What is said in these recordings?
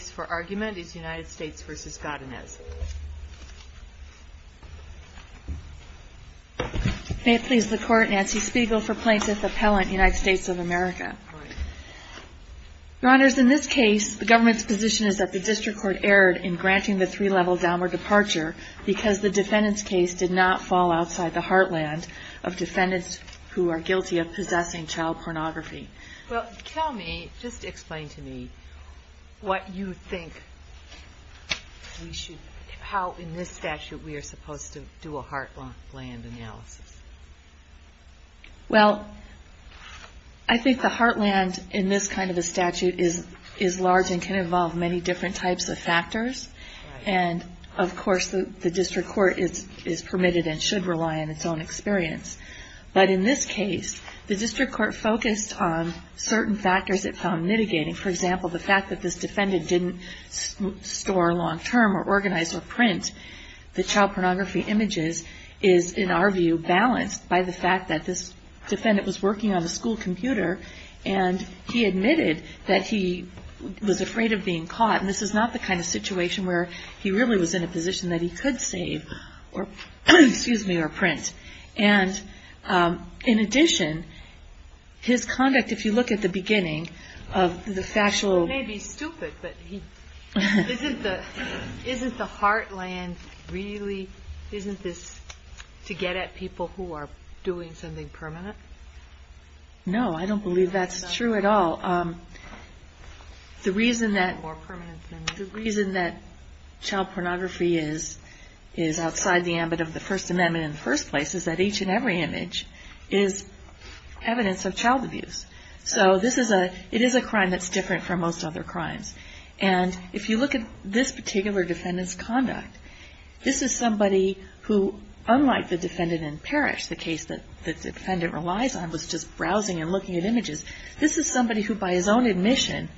for argument is United States v. Godinez. May it please the Court, Nancy Spiegel for Plaintiff Appellant, United States of America. Your Honors, in this case, the government's position is that the District Court erred in granting the three-level downward departure because the defendant's case did not fall outside the heartland of defendants who are you think we should, how in this statute we are supposed to do a heartland analysis? Well I think the heartland in this kind of a statute is large and can involve many different types of factors and of course the District Court is permitted and should rely on its own experience. But in this case, the District Court focused on certain factors it found that didn't store long-term or organize or print the child pornography images is in our view balanced by the fact that this defendant was working on a school computer and he admitted that he was afraid of being caught and this is not the kind of situation where he really was in a position that he could save or print. And in addition, his conduct if you look at the beginning of the factual... He may be stupid, but isn't the heartland really, isn't this to get at people who are doing something permanent? No I don't believe that's true at all. The reason that child pornography is outside the ambit of the First Amendment in the first place is that each and every image is evidence of child abuse. So it is a crime that's different from most other crimes. And if you look at this particular defendant's conduct, this is somebody who unlike the defendant in Parrish, the case that the defendant relies on was just browsing and looking at images. This is somebody who by his own admission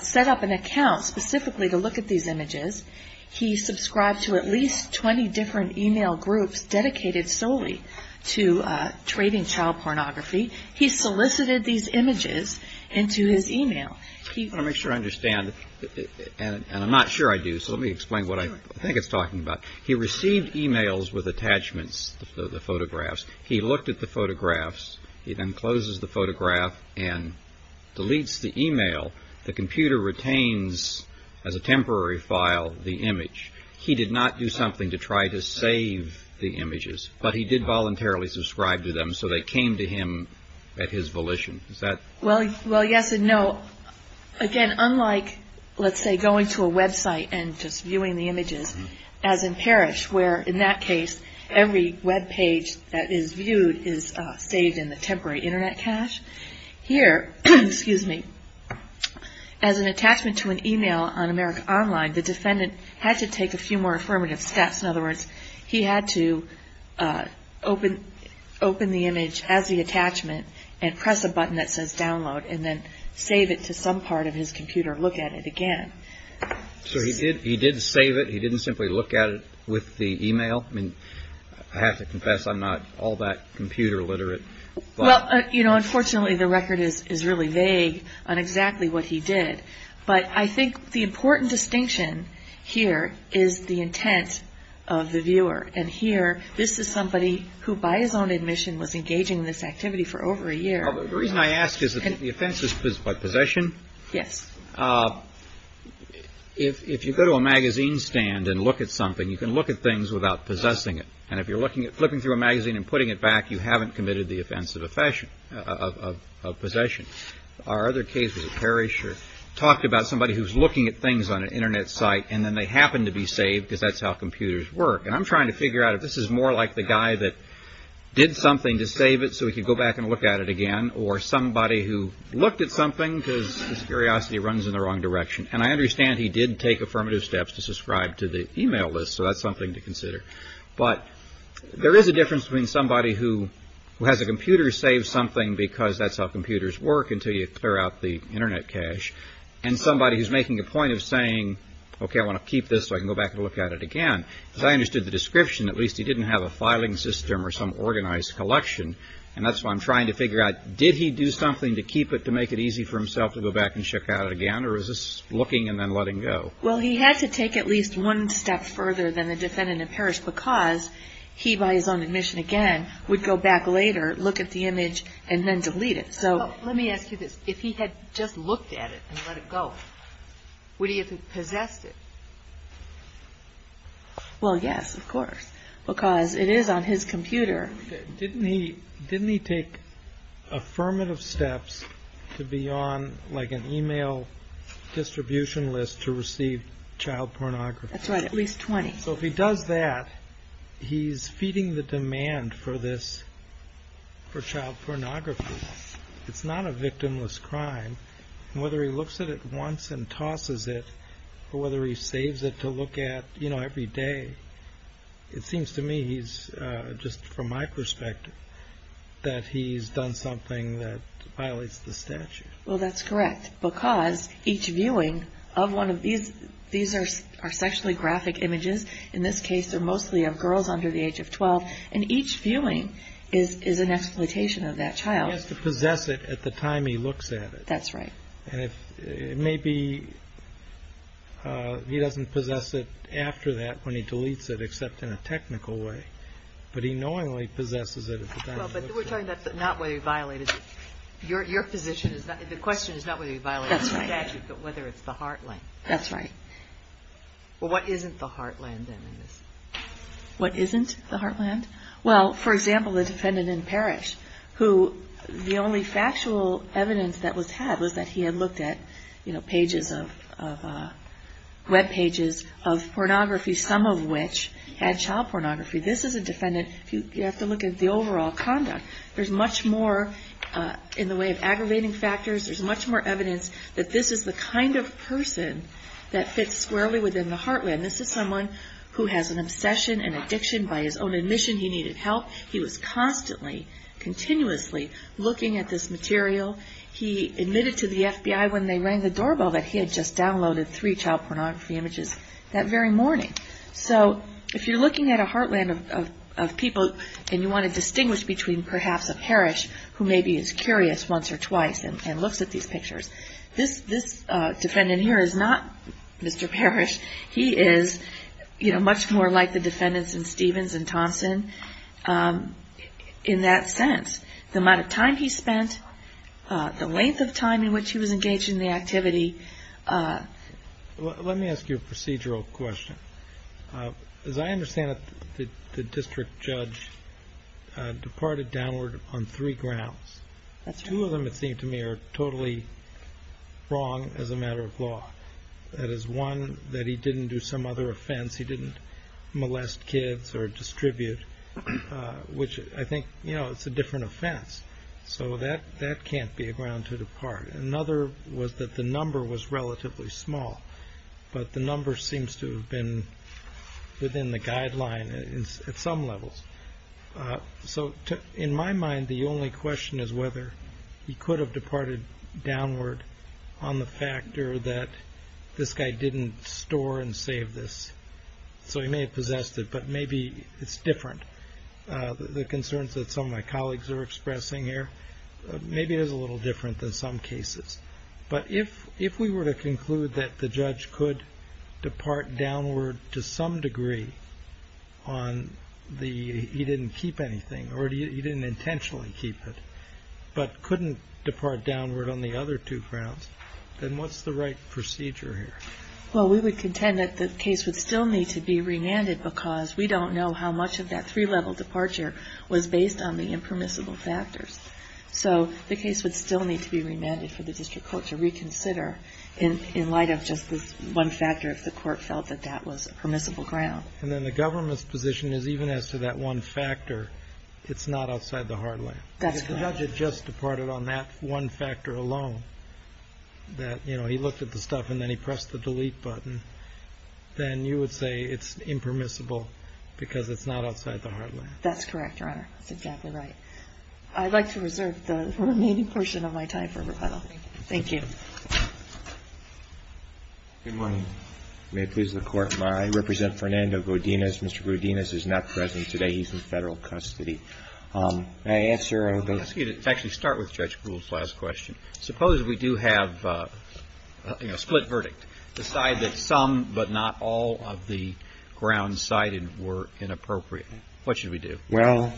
set up an account specifically to look at these images. He subscribed to at least 20 different email groups dedicated solely to trading child pornography. He solicited these images into his email. I want to make sure I understand, and I'm not sure I do, so let me explain what I think it's talking about. He received emails with attachments of the photographs. He looked at the photographs. He then closes the photograph and deletes the email. The computer retains as a temporary file the image. He did not do something to try to save the images, but he did voluntarily subscribe to them, so they came to him at his volition. Is that correct? Well, yes and no. Again, unlike let's say going to a website and just viewing the images, as in Parrish where in that case every webpage that is viewed is saved in the temporary internet cache, here as an attachment to an email on America Online, the defendant had to take a few more affirmative steps. In other words, he had to open the image as the attachment and press a button that says download, and then save it to some part of his computer and look at it again. He did save it. He didn't simply look at it with the email? I have to confess I'm not all that computer literate. Unfortunately, the record is really vague on exactly what he did, but I think the important distinction here is the intent of the viewer, and here this is somebody who by his own admission was engaging in this activity for over a year. The reason I ask is that the offense is by possession? Yes. If you go to a magazine stand and look at something, you can look at things without possessing it, and if you're flipping through a magazine and putting it back, you haven't committed the offense of possession. Our other case with Parrish talked about somebody who has a computer save something because that's how computers work, and I'm trying to figure out if this is more like the guy that did something to save it so he could go back and look at it again, or somebody who looked at something because his curiosity runs in the wrong direction, and I understand he did take affirmative steps to subscribe to the email list, so that's something to consider. There is a difference between somebody who has a computer save something because that's how computers work until you clear out the internet cache, and somebody who's making a point of saying, okay, I want to keep this so I can go back and look at it again. As I understood the description, at least he didn't have a filing system or some organized collection, and that's why I'm trying to figure out, did he do something to keep it to make it easy for himself to go back and check out it again, or is this looking and then letting go? Well, he had to take at least one step further than the defendant in Parrish because he, by his own admission again, would go back later, look at the image, and then delete it. Let me ask you this. If he had just looked at it and let it go, would he have possessed it? Well, yes, of course, because it is on his computer. Didn't he take affirmative steps to be on an email distribution list to receive child pornography? That's right, at least 20. So if he does that, he's feeding the demand for this, for child pornography. It's not a victimless crime. Whether he looks at it once and tosses it, or whether he saves it to look at every day, it seems to me, just from my perspective, that he's done something that violates the statute. Well, that's correct, because each viewing of one of these, these are sexually graphic images. In this case, they're mostly of girls under the age of 12, and each viewing is an exploitation of that child. He has to possess it at the time he looks at it. That's right. And maybe he doesn't possess it after that, when he deletes it, except in a technical way. But he knowingly possesses it at the time he looks at it. Well, but we're talking about not whether he violated it. Your position is not, the question is not whether he violated the statute, but whether it's the heartland. That's right. Well, what isn't the heartland, then, in this? What isn't the heartland? Well, for example, the defendant in Parrish, who the only factual evidence that was had was that he had looked at pages of, web pages of pornography, some of which had child pornography. This is a defendant, you have to look at the overall conduct. There's much more in the way of aggravating factors, there's much more evidence that this is the kind of person that fits squarely within the heartland. This is someone who has an obsession and addiction by his own admission he needed help. He was constantly, continuously looking at this material. He admitted to the FBI when they rang the doorbell that he had just downloaded three child pornography images that very morning. So if you're looking at a heartland of people and you want to distinguish between perhaps a Parrish who maybe is curious once or twice and looks at these pictures, this defendant in here is not Mr. Parrish. He is, you know, much more like the defendants in Stevens and Thompson in that sense. The amount of time he spent, the length of time in which he was engaged in the activity. Let me ask you a procedural question. As I understand it, the district judge departed downward on three grounds. Two of them it seems to me are totally wrong as a matter of law. That is one, that he didn't do some other offense. He didn't molest kids or distribute, which I think, you know, it's a different offense. So that can't be a ground to depart. Another was that the number was relatively small, but the number seems to have been within the guideline at some levels. So in my mind, the only question is whether he could have departed downward on the fact or that this guy didn't store and save this. So he may have possessed it, but maybe it's different. The concerns that some of my colleagues are expressing here, maybe it is a little different than some cases. But if we were to conclude that the judge could depart downward to some degree on the he didn't keep anything or he didn't intentionally keep it, but couldn't depart downward on the other two grounds, then what's the right procedure here? Well, we would contend that the case would still need to be remanded because we don't know how much of that three-level departure was based on the impermissible factors. So the case would still need to be remanded for the district court to reconsider in light of just this one factor, if the court felt that that was a permissible ground. And then the government's position is even as to that one factor, it's not outside the heartland. That's correct. If the judge had just departed on that one factor alone, that, you know, he looked at the stuff and then he pressed the delete button, then you would say it's impermissible because it's not outside the heartland. That's correct, Your Honor. That's exactly right. I'd like to reserve the remaining portion of my time for rebuttal. Thank you. Good morning. May it please the Court, I represent Fernando Godinez. Mr. Godinez is not present today. He's in federal custody. I ask your... I'd like to ask you to actually start with Judge Gould's last question. Suppose we do have a split verdict, decide that some but not all of the grounds cited were inappropriate, what should we do? Well,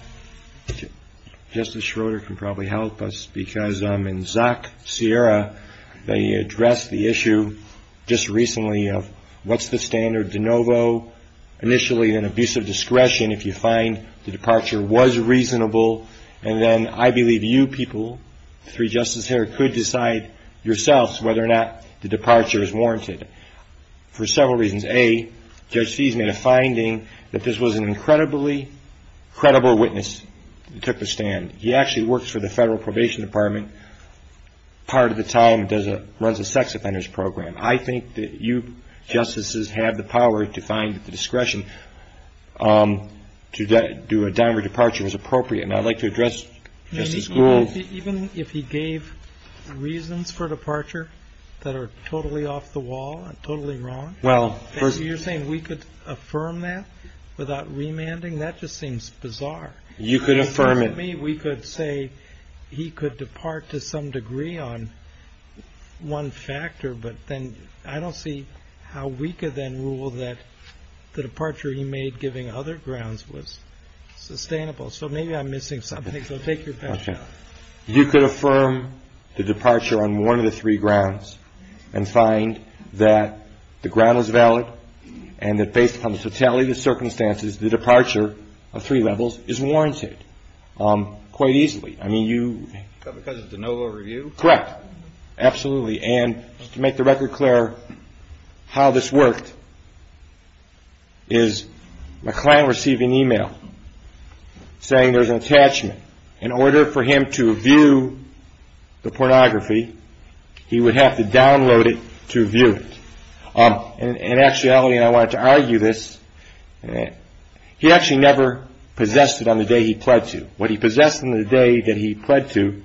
Justice Schroeder can probably help us because in Zach Sierra, they addressed the issue just recently of what's the standard de novo, initially an abuse of discretion if you find the departure was reasonable. And then I believe you people, three justices here, could decide yourselves whether or not the departure is warranted for several reasons. A, Judge Fees made a finding that this was an incredibly credible witness who took the stand. He actually works for the Federal Probation Department. Part of the time, does a... runs a sex offenders program. I think that you justices have the power to find the discretion to do a downward departure was appropriate. And I'd like to address Justice Gould. Even if he gave reasons for departure that are totally off the wall and totally wrong. Well, you're saying we could affirm that without remanding? That just seems bizarre. You could affirm it. We could say he could depart to some degree on one factor, but then I don't see how we could then rule that the departure he made giving other grounds was sustainable. So maybe I'm missing something. So take your time. Okay. You could affirm the departure on one of the three grounds and find that the ground was valid and that based upon the fatality of the circumstances, the departure of three levels is warranted quite easily. I mean, you... Because it's a NOVA review? Correct. Absolutely. And just to make the record clear, how this worked is my client received an email saying there's an order for him to view the pornography. He would have to download it to view it. And actually, I wanted to argue this. He actually never possessed it on the day he pled to. What he possessed in the day that he pled to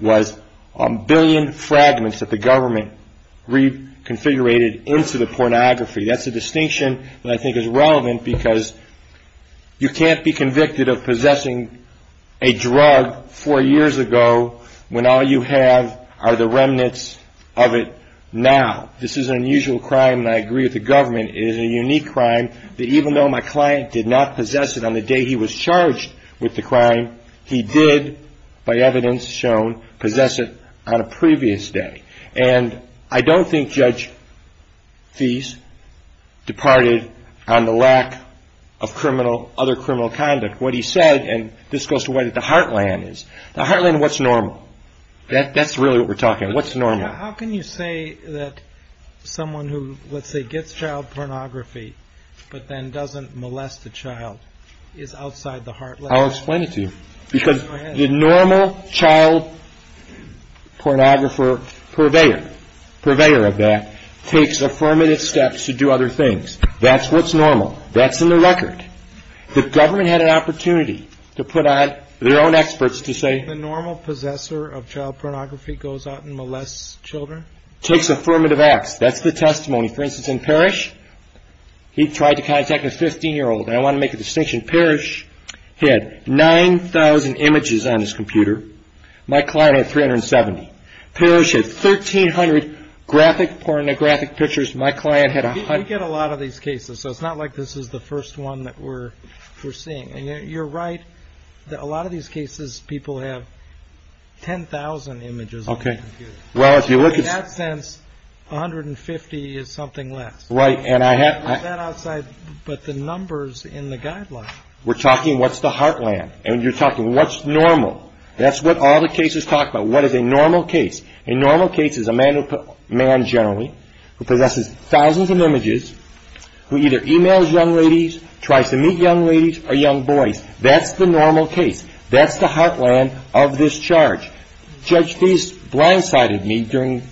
was a billion fragments that the government reconfigurated into the pornography. That's a distinction that I think is relevant because you can't be convicted of possessing a drug four years ago when all you have are the remnants of it now. This is an unusual crime and I agree with the government. It is a unique crime that even though my client did not possess it on the day he was charged with the crime, he did, by evidence shown, possess it on a previous day. And I don't think Judge Fease departed on the lack of other criminal conduct. What he said, and this goes to where the heartland is. The heartland, what's normal? That's really what we're talking about. What's normal? How can you say that someone who, let's say, gets child pornography, but then doesn't molest the child, is outside the heartland? I'll explain it to you. Because the normal child pornographer purveyor of that takes affirmative steps to do other things. That's what's normal. That's in the record. The government had an opportunity to put on their own experts to say... The normal possessor of child pornography goes out and molests children? Takes affirmative acts. That's the testimony. For instance, in Parrish, he tried to contact a 15-year-old. I want to make a distinction. Parrish had 9,000 graphic pornographic pictures. My client had a hundred... We get a lot of these cases, so it's not like this is the first one that we're seeing. And you're right that a lot of these cases, people have 10,000 images. Okay. Well, if you look at... In that sense, 150 is something less. Right. And I have... I put that outside, but the numbers in the guidelines... We're talking, what's the heartland? And you're talking, what's normal? That's what all the cases talk about. What is a normal case? A normal case is a man generally, who possesses thousands of images, who either emails young ladies, tries to meet young ladies or young boys. That's the normal case. That's the heartland of this charge. Judge Feist blindsided me during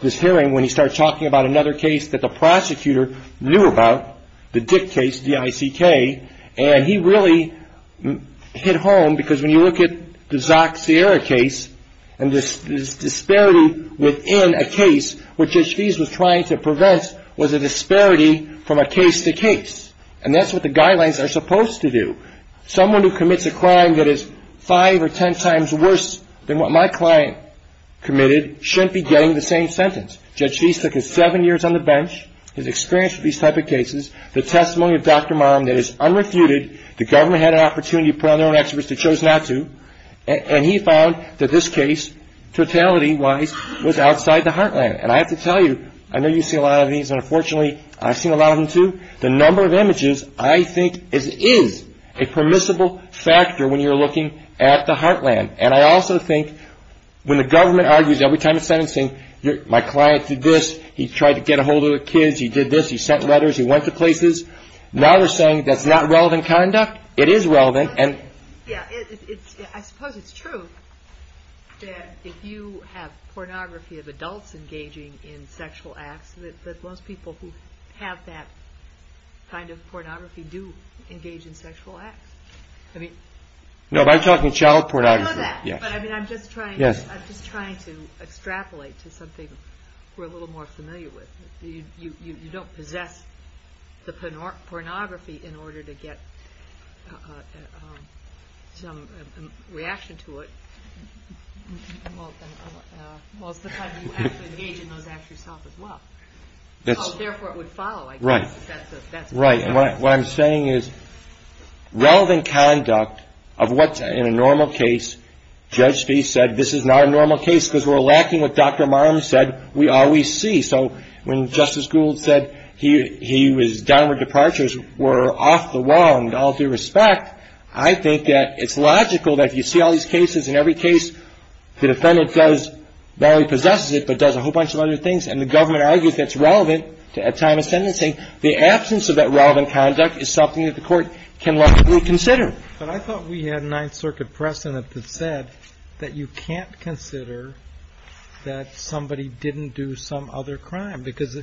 this hearing when he started talking about another case that the prosecutor knew about, the Dick case, D-I-C-K, and he really hit home because when you look at the Zack Sierra case and this disparity within a case, what Judge Feist was trying to prevent was a disparity from a case to case. And that's what the guidelines are supposed to do. Someone who commits a crime that is five or 10 times worse than what my client committed shouldn't be getting the same sentence. Judge Feist took his seven years on the bench, his experience with these type of cases, the testimony of Dr. Marum that is unrefuted. The government had an opportunity to put on their own experts. They chose not to. And he found that this case, totality-wise, was outside the heartland. And I have to tell you, I know you see a lot of these, and unfortunately I've seen a lot of them too, the number of images I think is a permissible factor when you're looking at the heartland. And I also think when the government argues every time it's sentencing, my client did this, he tried to get a hold of the kids, he did this, he sent letters, he went to places. Now they're saying that's not relevant conduct. It is relevant. Yeah, I suppose it's true that if you have pornography of adults engaging in sexual acts, that most people who have that kind of pornography do engage in sexual acts. I mean... No, if I'm talking child pornography, yes. I know that, but I mean I'm just trying to extrapolate to something we're a little more familiar with. You don't possess the pornography in order to get some reaction to it. Most of the time you have to engage in those acts yourself as well. Therefore it would follow, I guess, but that's a... Right, and what I'm saying is relevant conduct of what's in a normal case, Judge Spieth said this is not a normal case because we're lacking what Dr. Marm said we always see. So when Justice Gould said he was down with departures, we're off the wall and all due respect, I think that it's logical that if you see all these cases, in every case the defendant does, not only possesses it, but does a whole bunch of other things and the government argues that's relevant at time of sentencing, the absence of that relevant conduct is something that the court can logically consider. But I thought we had a Ninth Circuit precedent that said that you can't consider that somebody didn't do some other crime because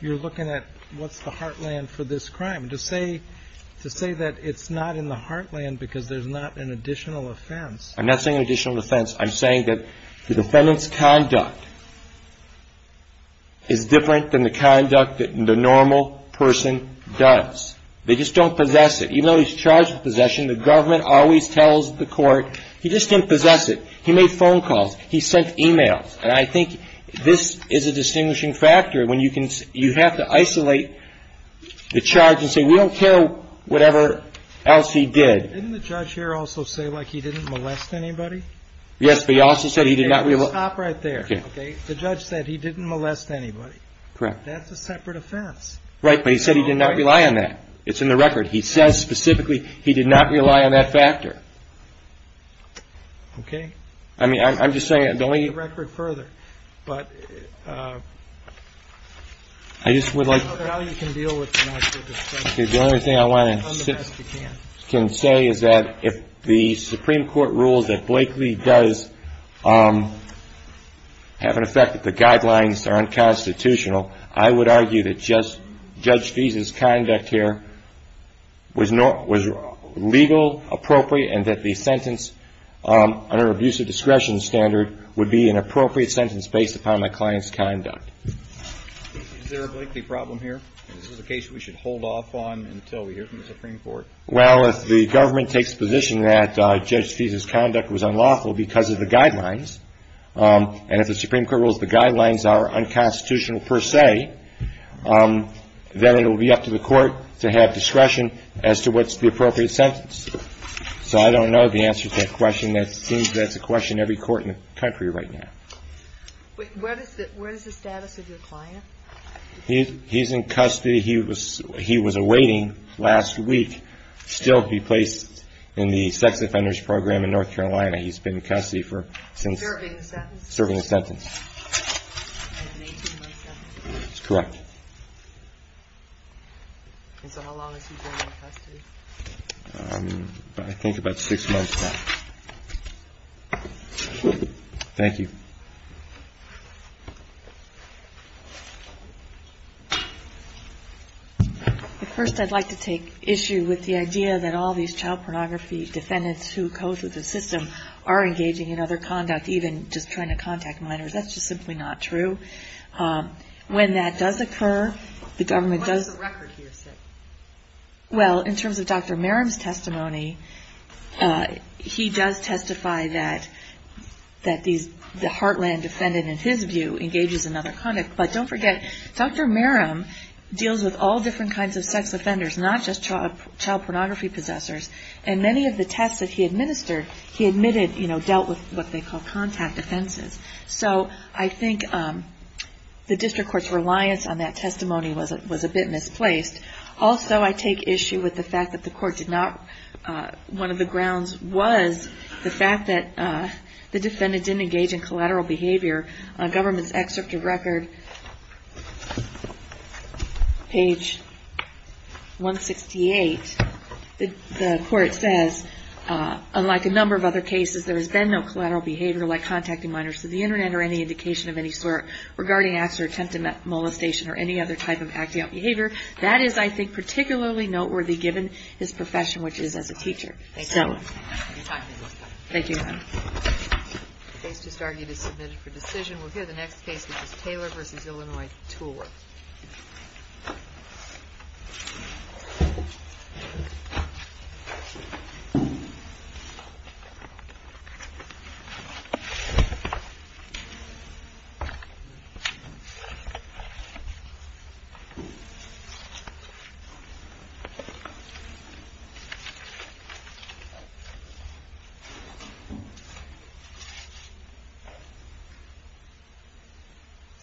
you're looking at what's the heartland for this crime. To say that it's not in the heartland because there's not an additional offense... I'm not saying an additional offense. I'm saying that the defendant's conduct is different than the conduct that the normal person does. They just don't possess it. Even though he's charged with possession, the government always tells the court, he just didn't possess it. He made phone calls. He sent emails. And I think this is a distinguishing factor when you have to isolate the charge and say, we don't care whatever else he did. Didn't the judge here also say like he didn't molest anybody? Yes, but he also said he did not... Stop right there. Okay. The judge said he didn't molest anybody. Correct. That's a separate offense. Right. But he said he did not rely on that. It's in the record. He says specifically he did not rely on that factor. Okay. I mean, I'm just saying... Take the record further. But... I just would like... The only thing I want to say is that if the Supreme Court rules that Blakely does have an effect that the guidelines are unconstitutional, I would argue that Judge Feeson's conduct here was legal, appropriate, and that the sentence under abusive discretion standard would be an appropriate sentence based upon my client's conduct. Is there a Blakely problem here? Is this a case we should hold off on until we hear from the Supreme Court? Well, if the government takes the position that Judge Feeson's conduct was unlawful because of the guidelines, and if the Supreme Court rules the guidelines are unconstitutional per se, then it'll be up to the court to have discretion as to what's the appropriate sentence. So I don't know the answer to that question. That seems that's a question every court in the country right now. Wait, where is the status of your client? He's in custody. He was awaiting last week, still to be placed in the sex offenders program in North Carolina. He's been in custody for since... Serving a sentence. Serving a sentence. And an 18-month sentence. That's correct. And so how long has he been in custody? I think about six months now. Thank you. First, I'd like to take issue with the idea that all these child pornography defendants who code with the system are engaging in other conduct, even just trying to contact minors. That's just simply not true. When that does occur, the government does... What's the record here? Well, in terms of Dr. Heartland, defendant, in his view, engages in other conduct. But don't forget, Dr. Merrim deals with all different kinds of sex offenders, not just child pornography possessors. And many of the tests that he administered, he admitted dealt with what they call contact offenses. So I think the district court's reliance on that testimony was a bit misplaced. Also, I take issue with the fact that one of the grounds was the fact that the government's excerpt of record, page 168, the court says, unlike a number of other cases, there has been no collateral behavior like contacting minors through the internet or any indication of any sort regarding acts or attempt at molestation or any other type of acting out behavior. That is, I think, particularly noteworthy given his profession, which is as a teacher. Thank you. The case just argued is submitted for decision. We'll hear the next case, which is Taylor v. Illinois, TOR. Thank you.